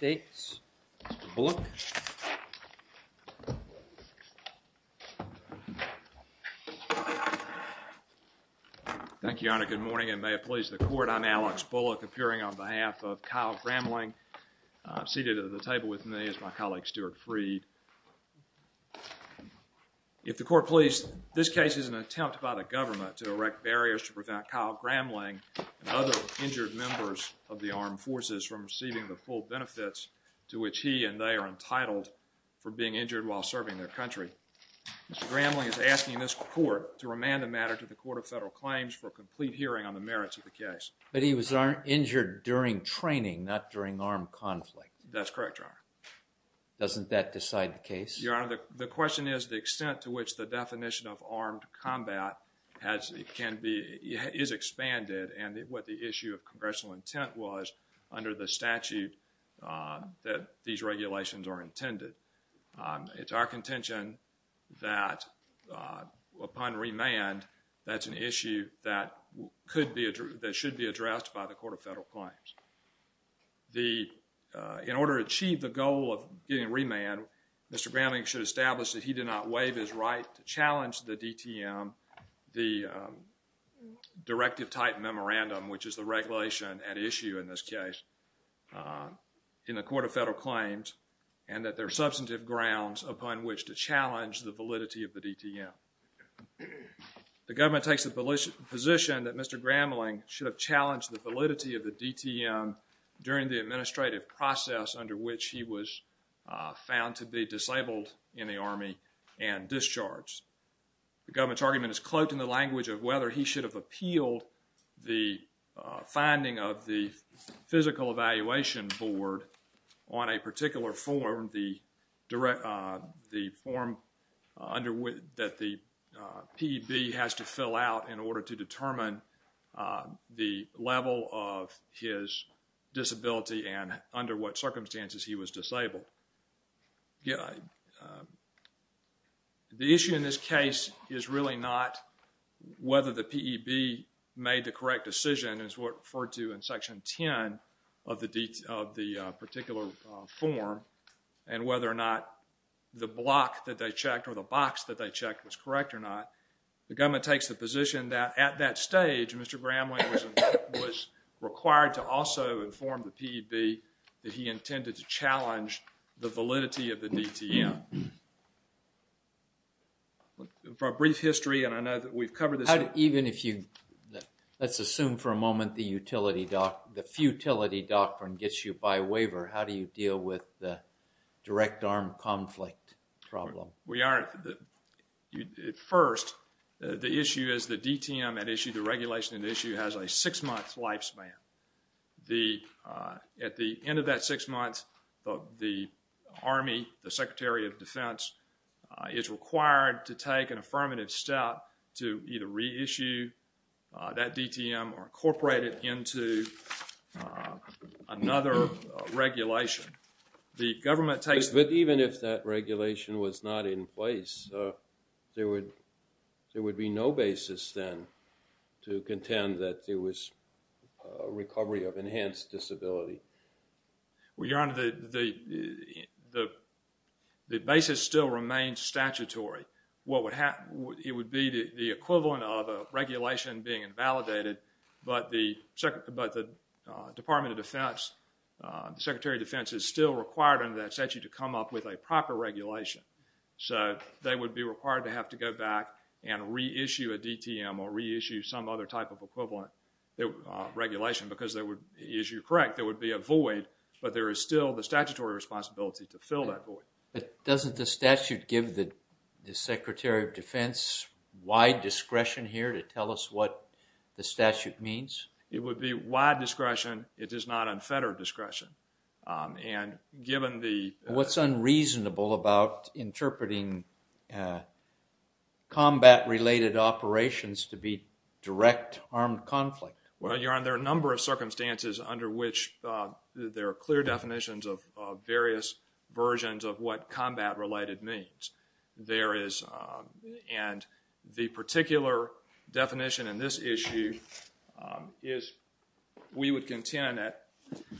Mr. Bullock. Thank you, Your Honor. Good morning and may it please the Court, I'm Alex Bullock appearing on behalf of Kyle Gramling. Seated at the table with me is my colleague Stuart Freed. If the Court please, this case is an attempt by the government to erect barriers to prevent Kyle Gramling and other injured members of the armed forces from receiving the full benefits to which he and they are entitled for being injured while serving their country. Mr. Gramling is asking this Court to remand the matter to the Court of Federal Claims for a complete hearing on the merits of the case. But he was injured during training, not during armed conflict. That's correct, Your Honor. Doesn't that decide the case? The question is the extent to which the definition of armed combat has, can be, is expanded and what the issue of congressional intent was under the statute that these regulations are intended. It's our contention that upon remand, that's an issue that could be, that should be addressed by the Court of Federal Claims. The, in order to achieve the goal of getting Mr. Gramling should establish that he did not waive his right to challenge the DTM, the directive type memorandum, which is the regulation at issue in this case, in the Court of Federal Claims and that there are substantive grounds upon which to challenge the validity of the DTM. The government takes the position that Mr. Gramling should have challenged the in the Army and discharged. The government's argument is cloaked in the language of whether he should have appealed the finding of the Physical Evaluation Board on a particular form, the direct, uh, the form, uh, under which, that the, uh, P.E.B. has to fill out in order to determine, uh, the level of his disability and under what circumstances he was disabled. The issue in this case is really not whether the P.E.B. made the correct decision as referred to in Section 10 of the, of the particular form and whether or not the block that they checked or the box that they checked was correct or not. The government takes the position that at that stage, Mr. Gramling was required to also inform the P.E.B. that he intended to challenge the validity of the DTM. For a brief history, and I know that we've covered this. How do, even if you, let's assume for a moment the utility doctrine, the futility doctrine gets you by waiver, how do you deal with the direct armed conflict problem? We are, at first, the issue is the DTM had issued a regulation and the issue has a six-month lifespan. The, uh, at the end of that six months, the Army, the Secretary of Defense, uh, is required to take an affirmative step to either reissue, uh, that DTM or incorporate it into, uh, another regulation. The government takes... But even if that regulation was not in place, uh, there would, there would be no basis then to contend that there was, uh, a recovery of enhanced disability. Well, Your Honor, the, the, the, the, the basis still remains statutory. What would happen, it would be the, the equivalent of a regulation being invalidated but the, but the, uh, Department of Defense, uh, the Secretary of Defense is still required under that statute to come up with a proper regulation. So, they would be required to have to go back and reissue a DTM or reissue some other type of equivalent, uh, regulation because there would, as you are correct, there would be a void but there is still the statutory responsibility to fill that void. But doesn't the statute give the, the Secretary of Defense wide discretion here to tell us what the statute means? It would be wide discretion. It is not unfettered discretion. Um, and given the... Well, Your Honor, there are a number of circumstances under which, uh, there are clear definitions of, uh, various versions of what combat-related means. There is, uh, and the particular definition in this issue, um, is we would contend that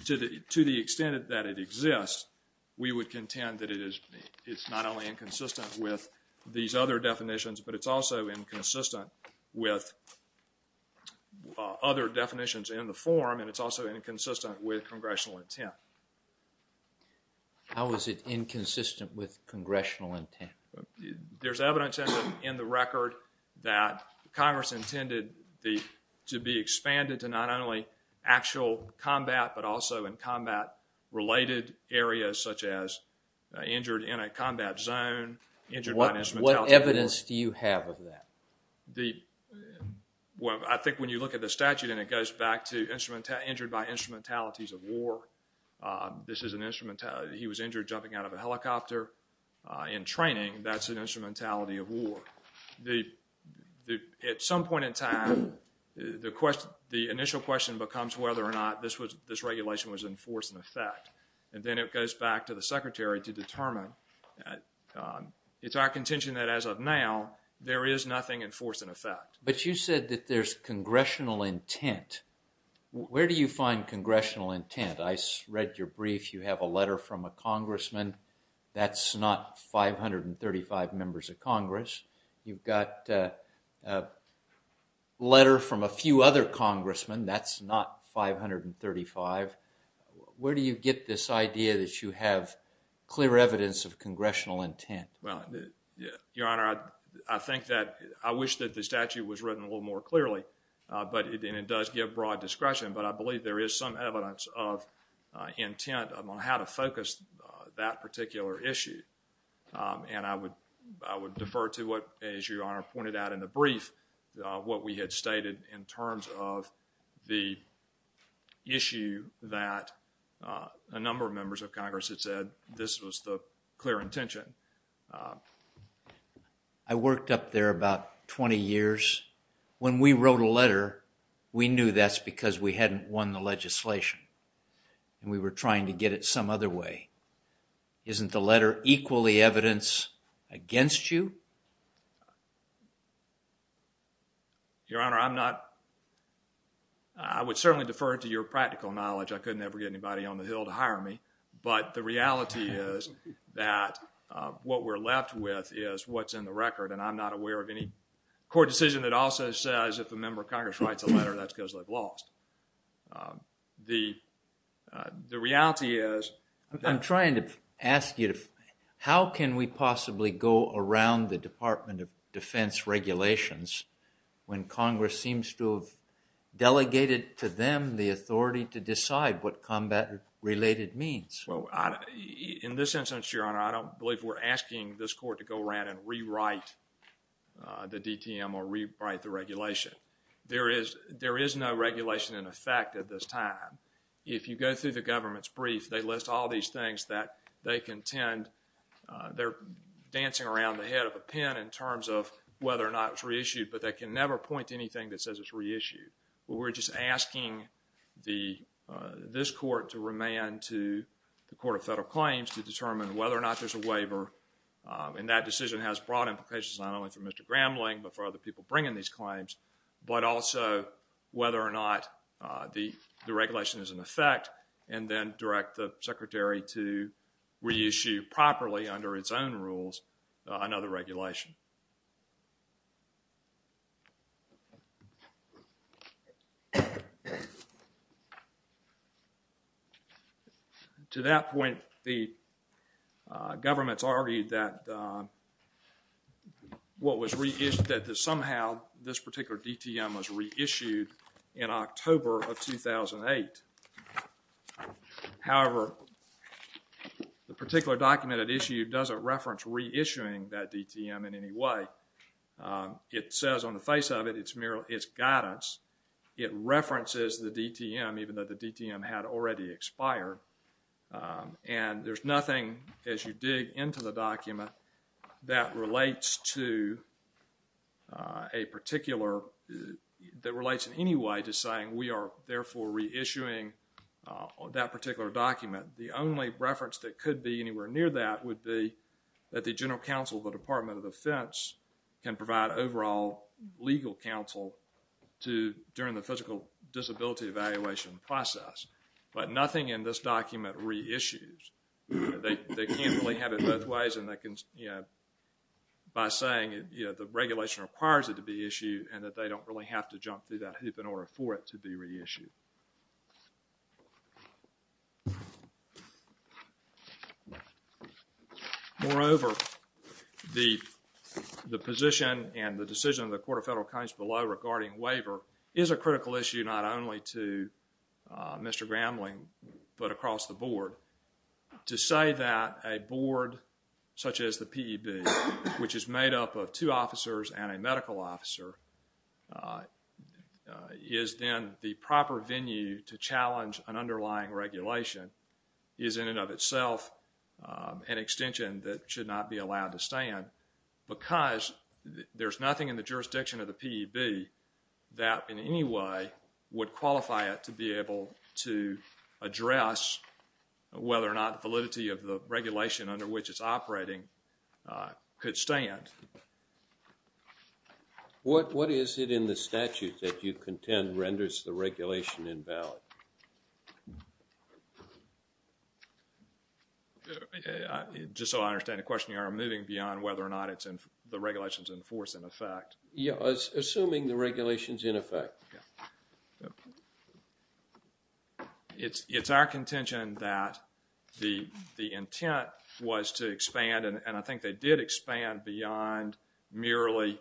to the, to the extent that it exists, we would contend that it is, it's not only inconsistent with these other definitions but it's also inconsistent with, uh, other definitions in the form and it's also inconsistent with congressional intent. How is it inconsistent with congressional intent? There's evidence in the, in the record that Congress intended the, to be expanded to not only actual combat but also in combat-related areas such as, uh, injured in a combat zone, injured by an instrumentality... The... Well, I think when you look at the statute and it goes back to instrumentality, injured by instrumentalities of war, uh, this is an instrumentality. He was injured jumping out of a helicopter, uh, in training. That's an instrumentality of war. The, the, at some point in time, the question, the initial question becomes whether or not this was, this regulation was in force and effect. And then it goes back to the Secretary to determine, uh, um, it's our contention that as of now, there is nothing in force and effect. But you said that there's congressional intent. Where do you find congressional intent? I read your brief. You have a letter from a congressman. That's not 535 members of Congress. You've got, uh, a letter from a few other members of Congress. Where do you find congressional intent? Well, uh, Your Honor, I, I think that, I wish that the statute was written a little more clearly, uh, but it, and it does give broad discretion. But I believe there is some evidence of, uh, intent on how to focus, uh, that particular issue. Um, and I would, I would defer to what, as Your Honor pointed out in the brief, uh, what we had stated in terms of the issue that, uh, a number of members of Congress had said this was the clear intention. Uh, I worked up there about 20 years. When we wrote a letter, we knew that's because we hadn't won the legislation and we were trying to get it some other way. Isn't the Your Honor, I'm not, I would certainly defer to your practical knowledge. I could never get anybody on the Hill to hire me. But the reality is that, uh, what we're left with is what's in the record. And I'm not aware of any court decision that also says if a member of Congress writes a letter, that's because they've lost. Um, the, uh, the reality is that... I'm trying to ask you to, how can we possibly go around the Department of Defense regulations when Congress seems to have delegated to them the authority to decide what combat related means? Well, I, in this instance, Your Honor, I don't believe we're asking this court to go around and rewrite, uh, the DTM or rewrite the regulation. There is, there is no regulation in effect at this time. If you go through the government's brief, they list all these things that they contend, uh, they're dancing around the head of a pin in terms of whether or not it's reissued, but they can never point to anything that says it's reissued. But we're just asking the, uh, this court to remand to the Court of Federal Claims to determine whether or not there's a waiver. Um, and that decision has broad implications not only for Mr. Grambling but for other people bringing these claims, but also whether or not, uh, the, the regulation is in effect and then direct the Secretary to reissue properly under its own rules, uh, another regulation. To that point, the, uh, government's argued that, uh, what was reissued, that somehow this particular DTM was reissued in October of 2008. However, the particular document that issued doesn't reference reissuing that DTM in any way. Um, it says on the face of it, it's merely, it's guidance. It references the DTM even though the DTM had already expired, um, and there's nothing as you dig into the document that relates to, uh, a particular, uh, that relates in any way to saying we are therefore reissuing, uh, that particular document. The only reference that could be anywhere near that would be that the General Counsel of the Department of Defense can provide overall legal counsel to, during the physical disability evaluation process, but nothing in this document reissues. They, they can't really have it both ways and they can, you know, by saying, you know, the regulation requires it to be Moreover, the, the position and the decision of the Court of Federal Accounts below regarding waiver is a critical issue not only to, uh, Mr. Gramling, but across the board. To say that a board such as the PEB, which is made up of two officers and a medical officer, uh, is then the proper venue to challenge an underlying regulation is in and of itself, um, an extension that should not be allowed to stand because there's nothing in the jurisdiction of the PEB that in any way would qualify it to be able to address whether or not validity of the regulation under which it's operating, uh, could stand. What, what is it in the statute that you contend renders the regulation invalid? Uh, I, just so I understand the question, you are moving beyond whether or not it's in, the regulation's in force in effect. Yeah, assuming the regulation's in effect. Yeah. It's, it's our contention that the, the intent was to expand and, and I think they did expand beyond merely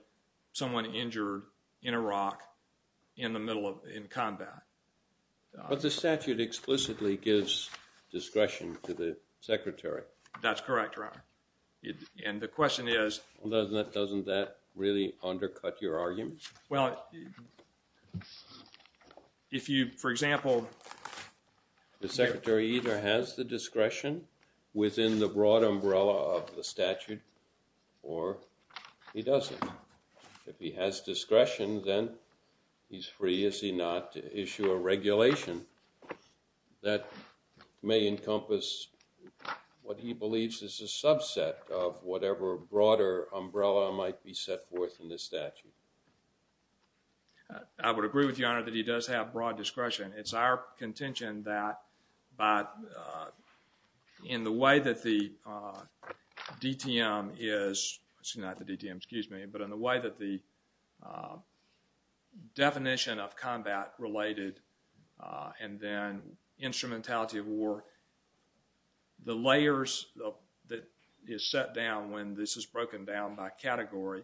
someone injured in Iraq in the middle of, in combat. But the statute explicitly gives discretion to the secretary. That's correct, Your Honor. It, and the question is Doesn't that, doesn't that really undercut your argument? Well, if you, for example, The secretary either has the discretion within the broad umbrella of the statute or he doesn't. If he has discretion, then he's free, is he not, to issue a regulation that may encompass what he believes is a subset of whatever broader umbrella might be set forth in this statute. Uh, I would agree with you, Your Honor, that he does have broad discretion. It's our contention that by, uh, in the way that the, uh, DTM is, it's not the DTM, excuse me, but in the way that the, uh, definition of combat related, uh, and then instrumentality of war, the layers that is set down when this is broken down by category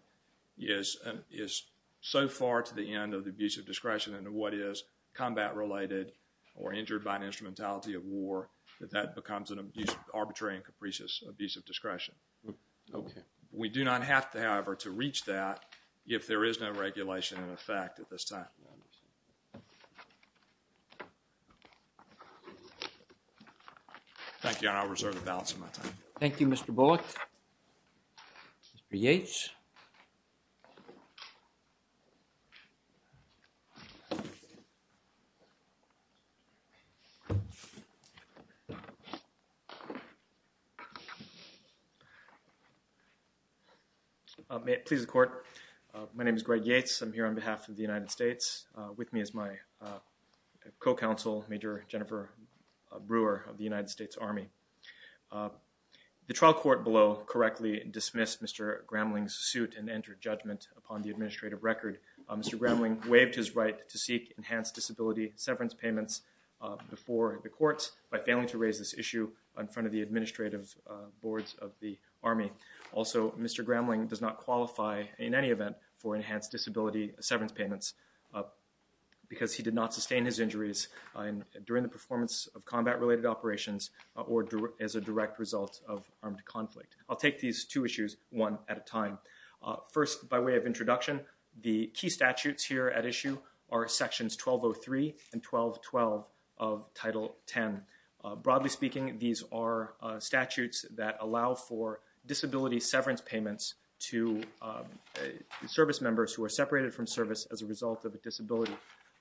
is, is so far to the end of the abuse of discretion and what is combat related or injured by an instrumentality of war that that becomes an abuse, arbitrary and capricious abuse of discretion. Okay. We do not have to, however, to reach that if there is no regulation in effect at this time. Thank you, Your Honor. I'll reserve the balance of my time. Thank you, Mr. Bullock. Mr. Yates. May it please the Court. My name is Greg Yates. I'm here on behalf of the United States. Uh, with me is my, uh, co-counsel, Major Jennifer Brewer of the United States Army. Uh, the trial court below correctly dismissed Mr. Gramling's suit and entered judgment upon the administrative record. Uh, Mr. Gramling waived his right to seek enhanced disability severance payments, uh, before the courts by failing to raise this issue in front of the administrative, uh, boards of the Army. Also, Mr. Gramling does not qualify in any event for enhanced disability severance payments, uh, because he did not sustain his injuries, uh, during the performance of combat-related operations or as a direct result of armed conflict. I'll take these two issues one at a time. Uh, first, by way of introduction, the key statutes here at issue are Sections 1203 and 1212 of Title 10. Uh, broadly speaking, these are, uh, statutes that allow for disability severance payments to, uh, service members who are separated from service as a result of a disability.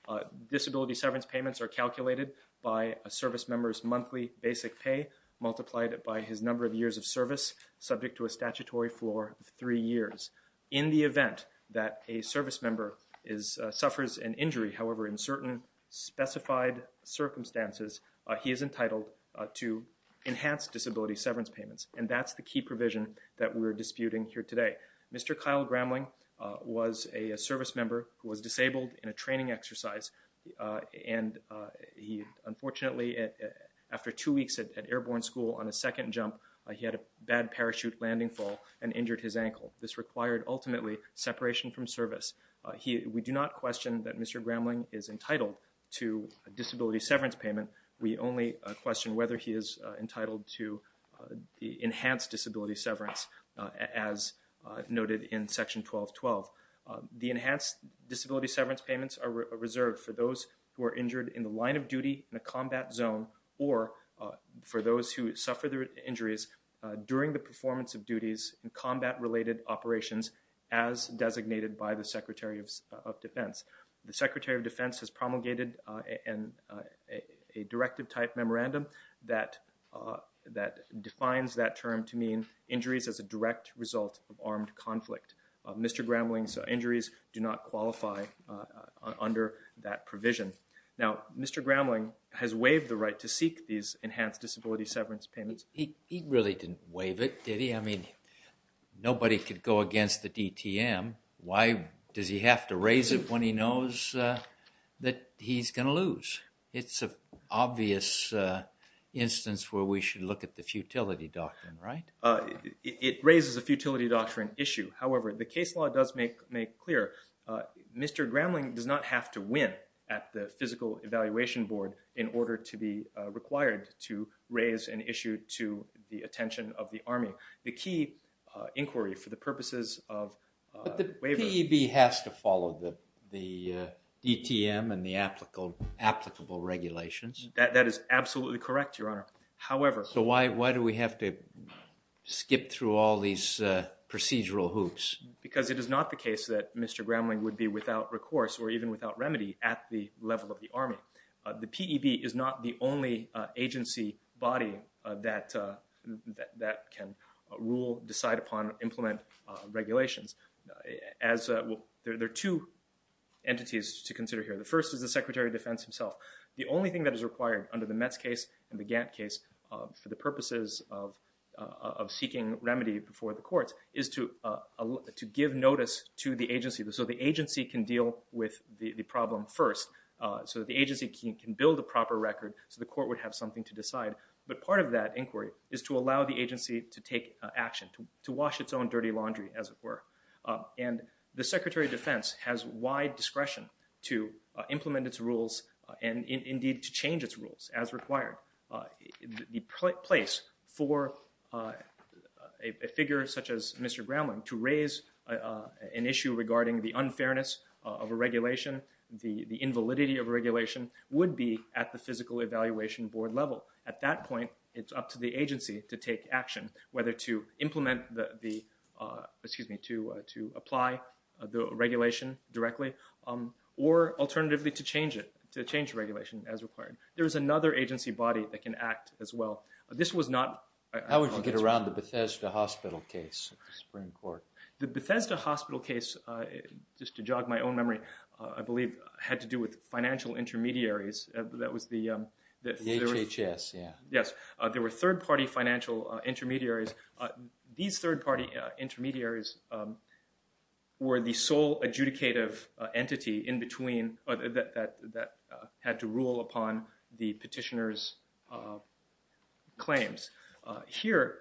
Uh, disability severance payments are calculated by a service member's monthly basic pay multiplied by his number of years of service subject to a statutory floor of three years. In the event that a service member is, uh, suffers an injury, however, in certain specified circumstances, uh, he is entitled, uh, to enhanced disability severance payments. And that's the key provision that we're disputing here today. Mr. Kyle Gramling, uh, was a, a service member who was disabled in a training exercise. Uh, and, uh, he, unfortunately, after two weeks at, at Airborne School on his second jump, uh, he had a bad parachute landing fall and injured his ankle. This required, ultimately, separation from service. Uh, he, we do not question that Mr. Gramling is entitled to a disability severance payment. We only, uh, question whether he is, uh, entitled to, uh, the enhanced disability severance, uh, as, uh, noted in Section 1212. Uh, the enhanced disability severance payments are reserved for those who are injured in the line of duty in a combat zone or, uh, for those who suffer their injuries, uh, during the performance of duties in combat-related operations as designated by the Secretary of, uh, of Defense. The Secretary of Defense has promulgated, uh, an, uh, a, a directive-type memorandum that, uh, that defines that term to mean injuries as a direct result of armed conflict. Uh, Mr. Gramling's injuries do not qualify, uh, uh, under that provision. Now, Mr. Gramling has waived the right to seek these enhanced disability severance payments. He, he really didn't waive it, did he? I mean, nobody could go against the DTM. Why does he have to raise it when he knows, uh, that he's gonna lose? It's an obvious, uh, instance where we should look at the futility doctrine, right? Uh, it, it raises a futility doctrine issue. However, the case law does make, make clear, uh, Mr. Gramling does not have to win at the Physical Evaluation Board in order to be, uh, required to raise an issue to the attention of the Army. So, the key, uh, inquiry for the purposes of, uh, waiver... But the PEB has to follow the, the, uh, DTM and the applicable, applicable regulations. That, that is absolutely correct, Your Honor. However... So why, why do we have to skip through all these, uh, procedural hoops? Because it is not the case that Mr. Gramling would be without recourse or even without remedy at the level of the Army. Uh, the PEB is not the only, uh, agency body, uh, that, uh, that, that can rule, decide upon, implement, uh, regulations. As, uh, well, there, there are two entities to consider here. The first is the Secretary of Defense himself. The only thing that is required under the Metz case and the Gantt case, uh, for the purposes of, uh, of seeking remedy before the courts is to, uh, to give notice to the agency. So the agency can deal with the, the problem first. Uh, so the agency can, can build a proper record so the court would have something to decide. But part of that inquiry is to allow the agency to take, uh, action, to, to wash its own dirty laundry, as it were. Uh, and the Secretary of Defense has wide discretion to, uh, implement its rules and, and indeed to change its rules as required. Uh, the, the place for, uh, a, a figure such as Mr. Gramling to raise, uh, uh, an issue regarding the unfairness of a regulation, the, the invalidity of a regulation would be at the physical evaluation board level. At that point, it's up to the agency to take action, whether to implement the, the, uh, excuse me, to, uh, to apply the regulation directly, um, or alternatively to change it, to change regulation as required. There is another agency body that can act as well. This was not... How would you get around the Bethesda Hospital case at the Supreme Court? The Bethesda Hospital case, uh, just to jog my own memory, uh, I believe had to do with financial intermediaries. Uh, that was the, um... The HHS, yeah. Yes. Uh, there were third-party financial, uh, intermediaries. Uh, these third-party, uh, intermediaries, um, were the sole adjudicative, uh, entity in between, uh, that, that, that, uh, had to rule upon the petitioner's, uh, claims. Uh, here,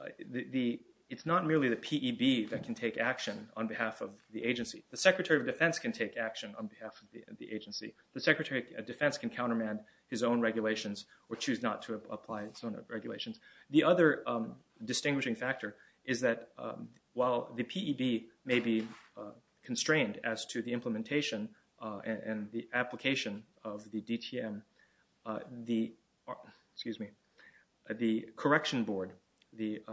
uh, the, the, it's not merely the PEB that can take action on behalf of the agency. The Secretary of Defense can take action on behalf of the, the agency. The Secretary of Defense can countermand his own regulations or choose not to apply his own regulations. The other, um, distinguishing factor is that, um, while the PEB may be, uh, constrained as to the implementation, uh, and, and the application of the DTM, uh, the... Excuse me. The correction board, the, uh...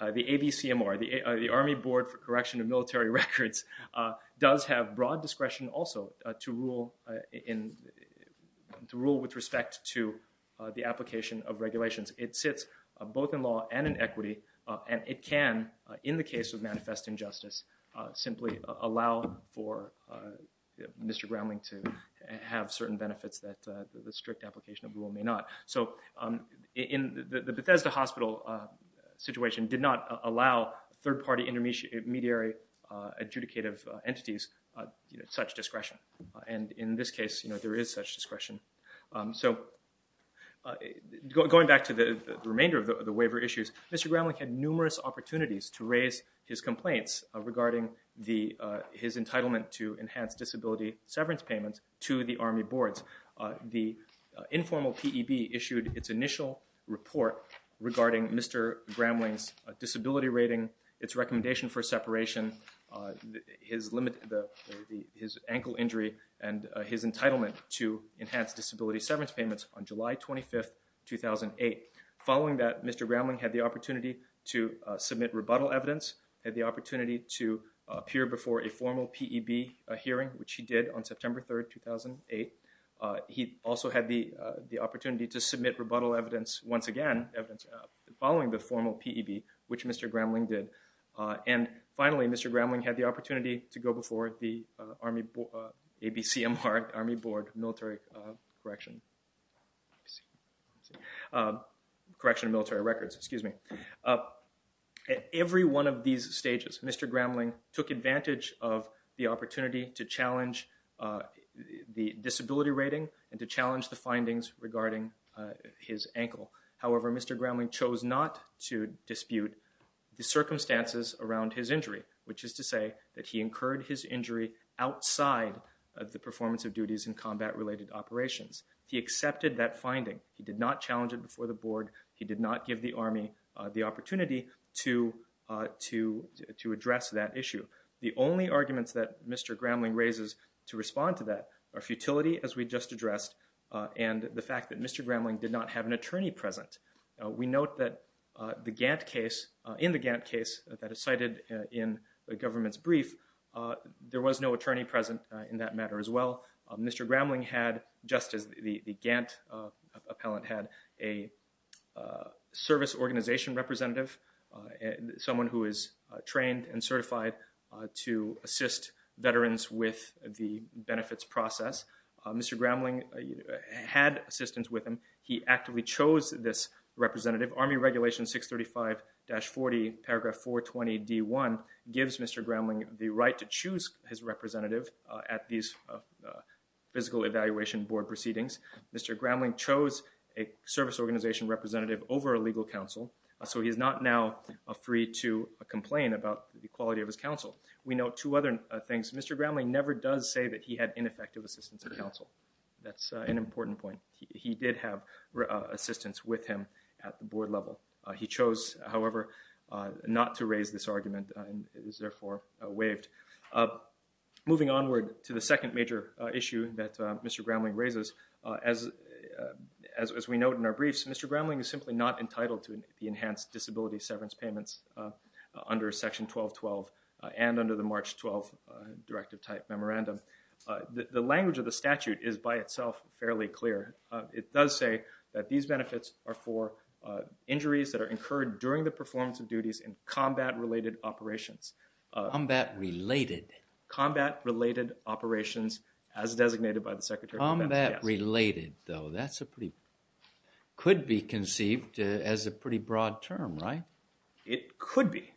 Uh, the ABCMR, the, uh, the Army Board for Correction of Military Records, uh, does have broad discretion also, uh, to rule, uh, in... to rule with respect to, uh, the application of regulations. It sits, uh, both in law and in equity, uh, and it can, uh, in the case of manifest injustice, uh, simply allow for, uh, Mr. Groundling to have certain benefits that, uh, the strict application of rule may not. So, um, in the, the Bethesda Hospital, uh, situation did not allow third-party intermediary, uh, adjudicative entities, uh, you know, such discretion. And in this case, you know, there is such discretion. Um, so, uh, going back to the remainder of the waiver issues, Mr. Groundling had numerous opportunities to raise his complaints regarding the, uh, his entitlement to enhanced disability severance payments to the Army Boards. Uh, the, uh, informal P.E.B. issued its initial report regarding Mr. Groundling's, uh, disability rating, its recommendation for separation, uh, his limit... his ankle injury and, uh, his entitlement to enhanced disability severance payments on July 25th, 2008. Following that, Mr. Groundling had the opportunity to, uh, submit rebuttal evidence, had the opportunity to, uh, appear before a formal P.E.B. hearing, which he did on September 3rd, 2008. Uh, he also had the, uh, the opportunity to submit rebuttal evidence once again, evidence, uh, following the formal P.E.B., which Mr. Groundling did. Uh, and finally, Mr. Groundling had the opportunity to go before the, uh, Army Bo... uh, ABCMR, Army Board Military, uh, Correction... ABC... uh, Correction of Military Records, excuse me. Uh, at every one of these stages, Mr. Groundling took advantage of the opportunity to challenge, uh, the disability rating and to challenge the findings regarding, uh, his ankle. However, Mr. Groundling chose not to dispute the circumstances around his injury, which is to say that he incurred his injury outside of the performance of duties in combat-related operations. He accepted that finding. He did not challenge it before the board. He did not give the Army, uh, the opportunity to, uh, to... to address that issue. The only arguments that Mr. Groundling raises to respond to that are futility, as we just addressed, uh, and the fact that Mr. Groundling did not have an attorney present. Uh, we note that, uh, the Gantt case, uh, in the Gantt case that is cited, uh, in the government's brief, uh, there was no attorney present, uh, in that matter as well. Um, Mr. Groundling had, just as the... the Gantt, uh, appellant had, a, uh, service organization representative, uh, someone who is, uh, trained and certified, uh, to assist veterans with the benefits process. Uh, Mr. Groundling, uh, had assistance with him. He actively chose this representative. Army Regulation 635-40, paragraph 420d1 gives Mr. Groundling the right to choose his representative, uh, at these, uh, physical evaluation board proceedings. Mr. Groundling chose a service organization representative over a legal counsel, uh, so he is not now, uh, free to, uh, complain about the quality of his counsel. We note two other, uh, things. Mr. Groundling never does say that he had ineffective assistance of counsel. That's, uh, an important point. He did have, uh, assistance with him at the board level. Uh, he chose, however, uh, not to raise this argument, uh, and is therefore, uh, waived. Uh, moving onward to the second major, uh, issue that, uh, Mr. Groundling raises, uh, as, uh, as we note in our briefs, Mr. Groundling is simply not entitled to the enhanced disability severance payments, uh, under Section 1212, uh, and under the March 12th, uh, directive type memorandum. Uh, the, the language of the statute is by itself fairly clear. Uh, it does say that these benefits are for, uh, injuries that are incurred during the performance of duties in combat-related operations. Uh, combat-related. Combat-related operations as designated by the Secretary of Defense. Combat-related, though, that's a pretty could be conceived as a pretty broad term, right? It could be.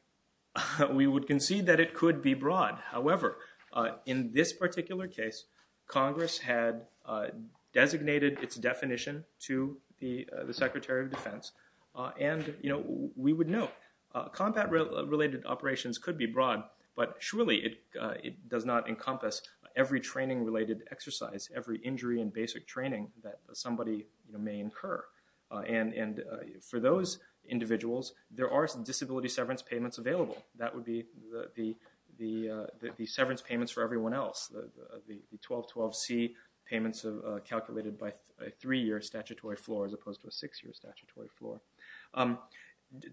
We would concede that it could be broad. However, uh, in this particular case, Congress had, uh, designated its definition to the, uh, the Secretary of Defense, uh, and, you know, we would know. Uh, combat-related operations could be broad, but surely it, uh, it does not encompass every training-related exercise, every injury and basic training that somebody, you know, may incur. Uh, and, and, uh, for those individuals, there are some disability severance payments available. That would be the, the, uh, the severance payments for everyone else. Uh, the 1212C payments, uh, calculated by a three-year statutory floor as opposed to a six-year statutory floor. Um,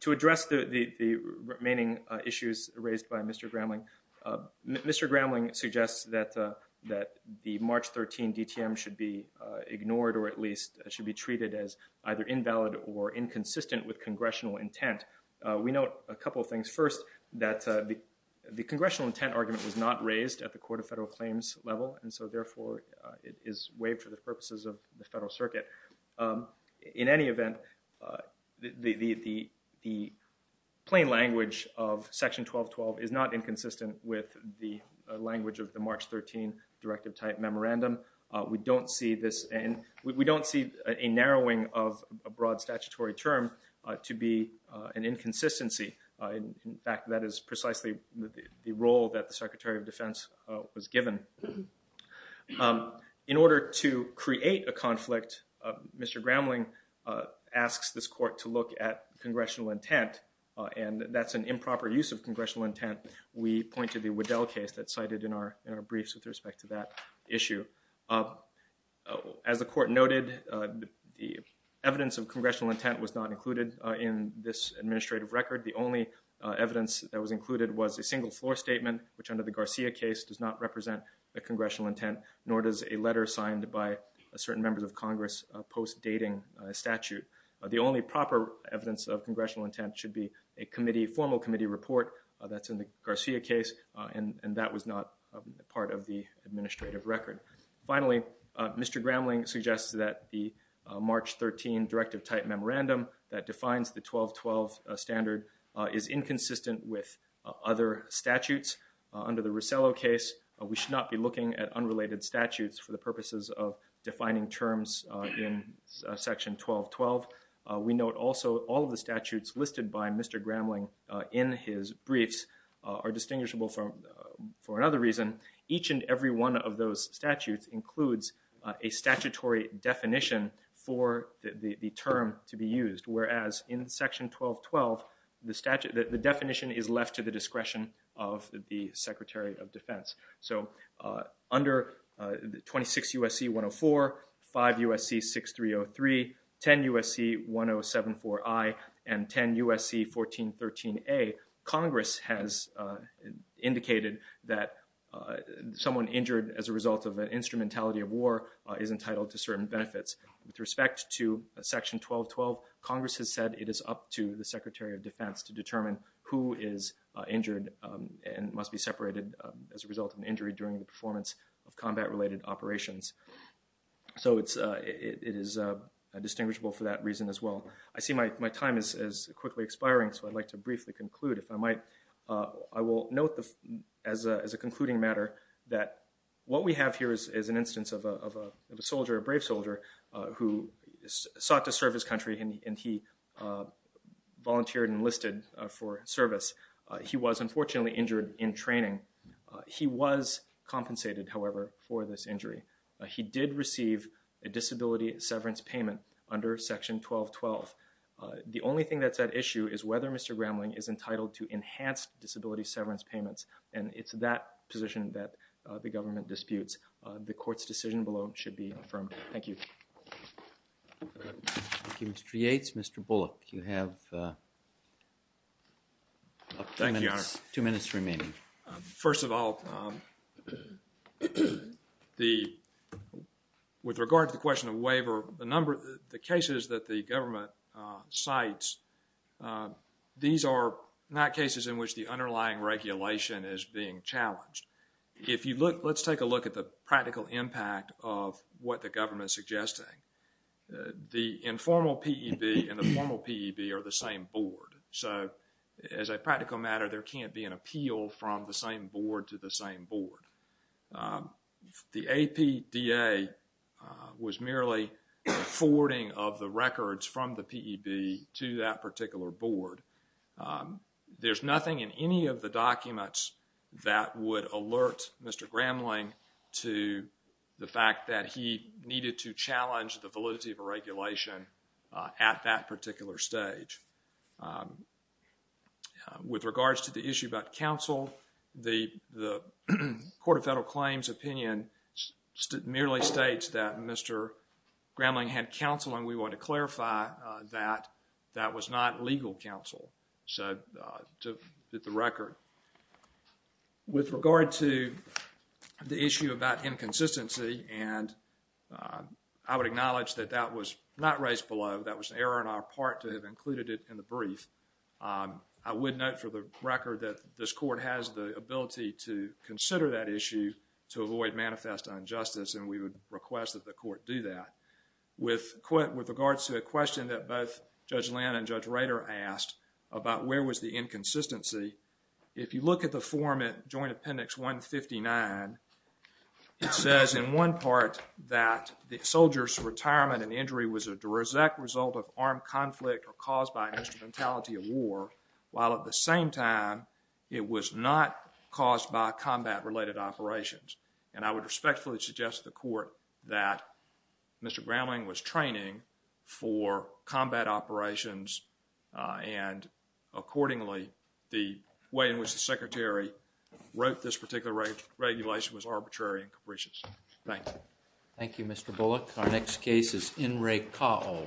to address the, the, the remaining, uh, issues raised by Mr. Gramling, uh, Mr. Gramling suggests that, uh, that the March 13 DTM should be, uh, ignored or at least should be treated as either invalid or inconsistent with congressional intent. Uh, we note a couple of things. First, that, uh, the, the congressional intent argument was not raised at the Court of Federal Claims level, and so therefore, uh, it is waived for the purposes of the Federal Circuit. Um, in any event, uh, the, the, the, the plain language of Section 1212 is not inconsistent with the language of the March 13 Directive Type Memorandum. Uh, we don't see this, and we, we don't see a narrowing of a broad statutory term, uh, to be, uh, an inconsistency. Uh, in, in fact, that is precisely the, the, the role that the Secretary of Defense, uh, was given. Um, in order to create a conflict, uh, Mr. Gramling, uh, asks this Court to look at congressional intent, uh, and that's an improper use of congressional intent. We point to the Waddell case that's cited in our, in our briefs with respect to that issue. Uh, as the Court noted, uh, the evidence of congressional intent was not included, uh, in this administrative record. The only, uh, evidence that was included was a single floor statement, which under the Garcia case does not represent the congressional intent, nor does a letter signed by a certain member of Congress, uh, post-dating, uh, statute. Uh, the only proper evidence of congressional intent should be a committee, formal committee report, uh, that's in the Garcia case, uh, and, and that was not, uh, part of the administrative record. Finally, uh, Mr. Gramling suggests that the, uh, March 13 directive type memorandum that defines the 1212, uh, standard, uh, is inconsistent with, uh, other statutes. Uh, under the Rosello case, uh, we should not be looking at unrelated statutes for the purposes of defining terms, uh, in, uh, section 1212. Uh, we note also all of the statutes listed by Mr. Gramling, uh, in his briefs, uh, are distinguishable from, uh, for another reason. Each and every one of those statutes includes, uh, a statutory definition for the, the term to be used, whereas in section 1212, the statute, the definition is left to the discretion of the Secretary of Defense. So, uh, under, uh, 26 U.S.C. 104, 5 U.S.C. 6303, 10 U.S.C. 1074I, and 10 U.S.C. 1413A, Congress has, uh, indicated that, uh, someone injured as a result of an instrumentality of war, uh, is entitled to certain benefits. With respect to section 1212, Congress has said it is up to the Secretary of Defense to determine who is, uh, injured, um, and must be separated, um, as a result of an injury during the performance of combat-related operations. So it's, uh, it is, uh, distinguishable for that reason as well. I see my, my time is, is quickly expiring, so I'd like to briefly conclude. If I might, uh, I will note the, as a, as a concluding matter that what we have here is, is an instance of a, of a, of a soldier, a brave soldier, uh, who sought to serve his country, and he, and he, uh, volunteered and enlisted, uh, for service. Uh, he was unfortunately injured in training. Uh, he was compensated, however, for this injury. Uh, he did receive a disability severance payment under Section 1212. Uh, the only thing that's at issue is whether Mr. Gramling is entitled to enhanced disability severance payments, and it's that position that, uh, the government disputes. Uh, the Court's decision below should be affirmed. Thank you. Thank you, Mr. Yates. Mr. Bullock, you have, uh, two minutes, two minutes remaining. Thank you, Your Honor. Um, first of all, um, the, with regard to the question of waiver, the number, the cases that the government, uh, cites, uh, these are not cases in which the underlying regulation is being challenged. If you look, let's take a look at the practical impact of what the government is suggesting. Uh, the informal PEB and the formal PEB are the same board. So, as a practical matter, there can't be an appeal from the same board to the same board. Um, the APDA, uh, was merely forwarding of the records from the PEB to that particular board. Um, there's nothing in any of the documents that would alert Mr. Gramling to the fact that he needed to challenge the validity of a regulation, uh, at that particular stage. Um, with regards to the issue about counsel, the, the Court of Federal Claims opinion merely states that Mr. Gramling had counsel and we want to clarify, uh, that that was not legal counsel. So, uh, to fit the record. With regard to the issue about inconsistency, and, uh, I would acknowledge that that was not raised below. That was an error on our part to have included it in the brief. Um, I would note for the record that this court has the ability to consider that issue to avoid manifest injustice and we would request that the court do that. With, with regards to the question that both Judge Land and Judge Rader asked about where was the inconsistency, if you look at the form at Joint Appendix 159, it says in one part that the soldier's retirement and injury was a direct result of armed conflict or caused by instrumentality of war, while at the same time it was not caused by combat-related operations. And I would respectfully suggest to the court that Mr. Gramling was training for combat operations, uh, and accordingly, the way in which the Secretary wrote this particular regulation was arbitrary and capricious. Thank you. Thank you, Mr. Bullock. Our next case is N. Ray Caul.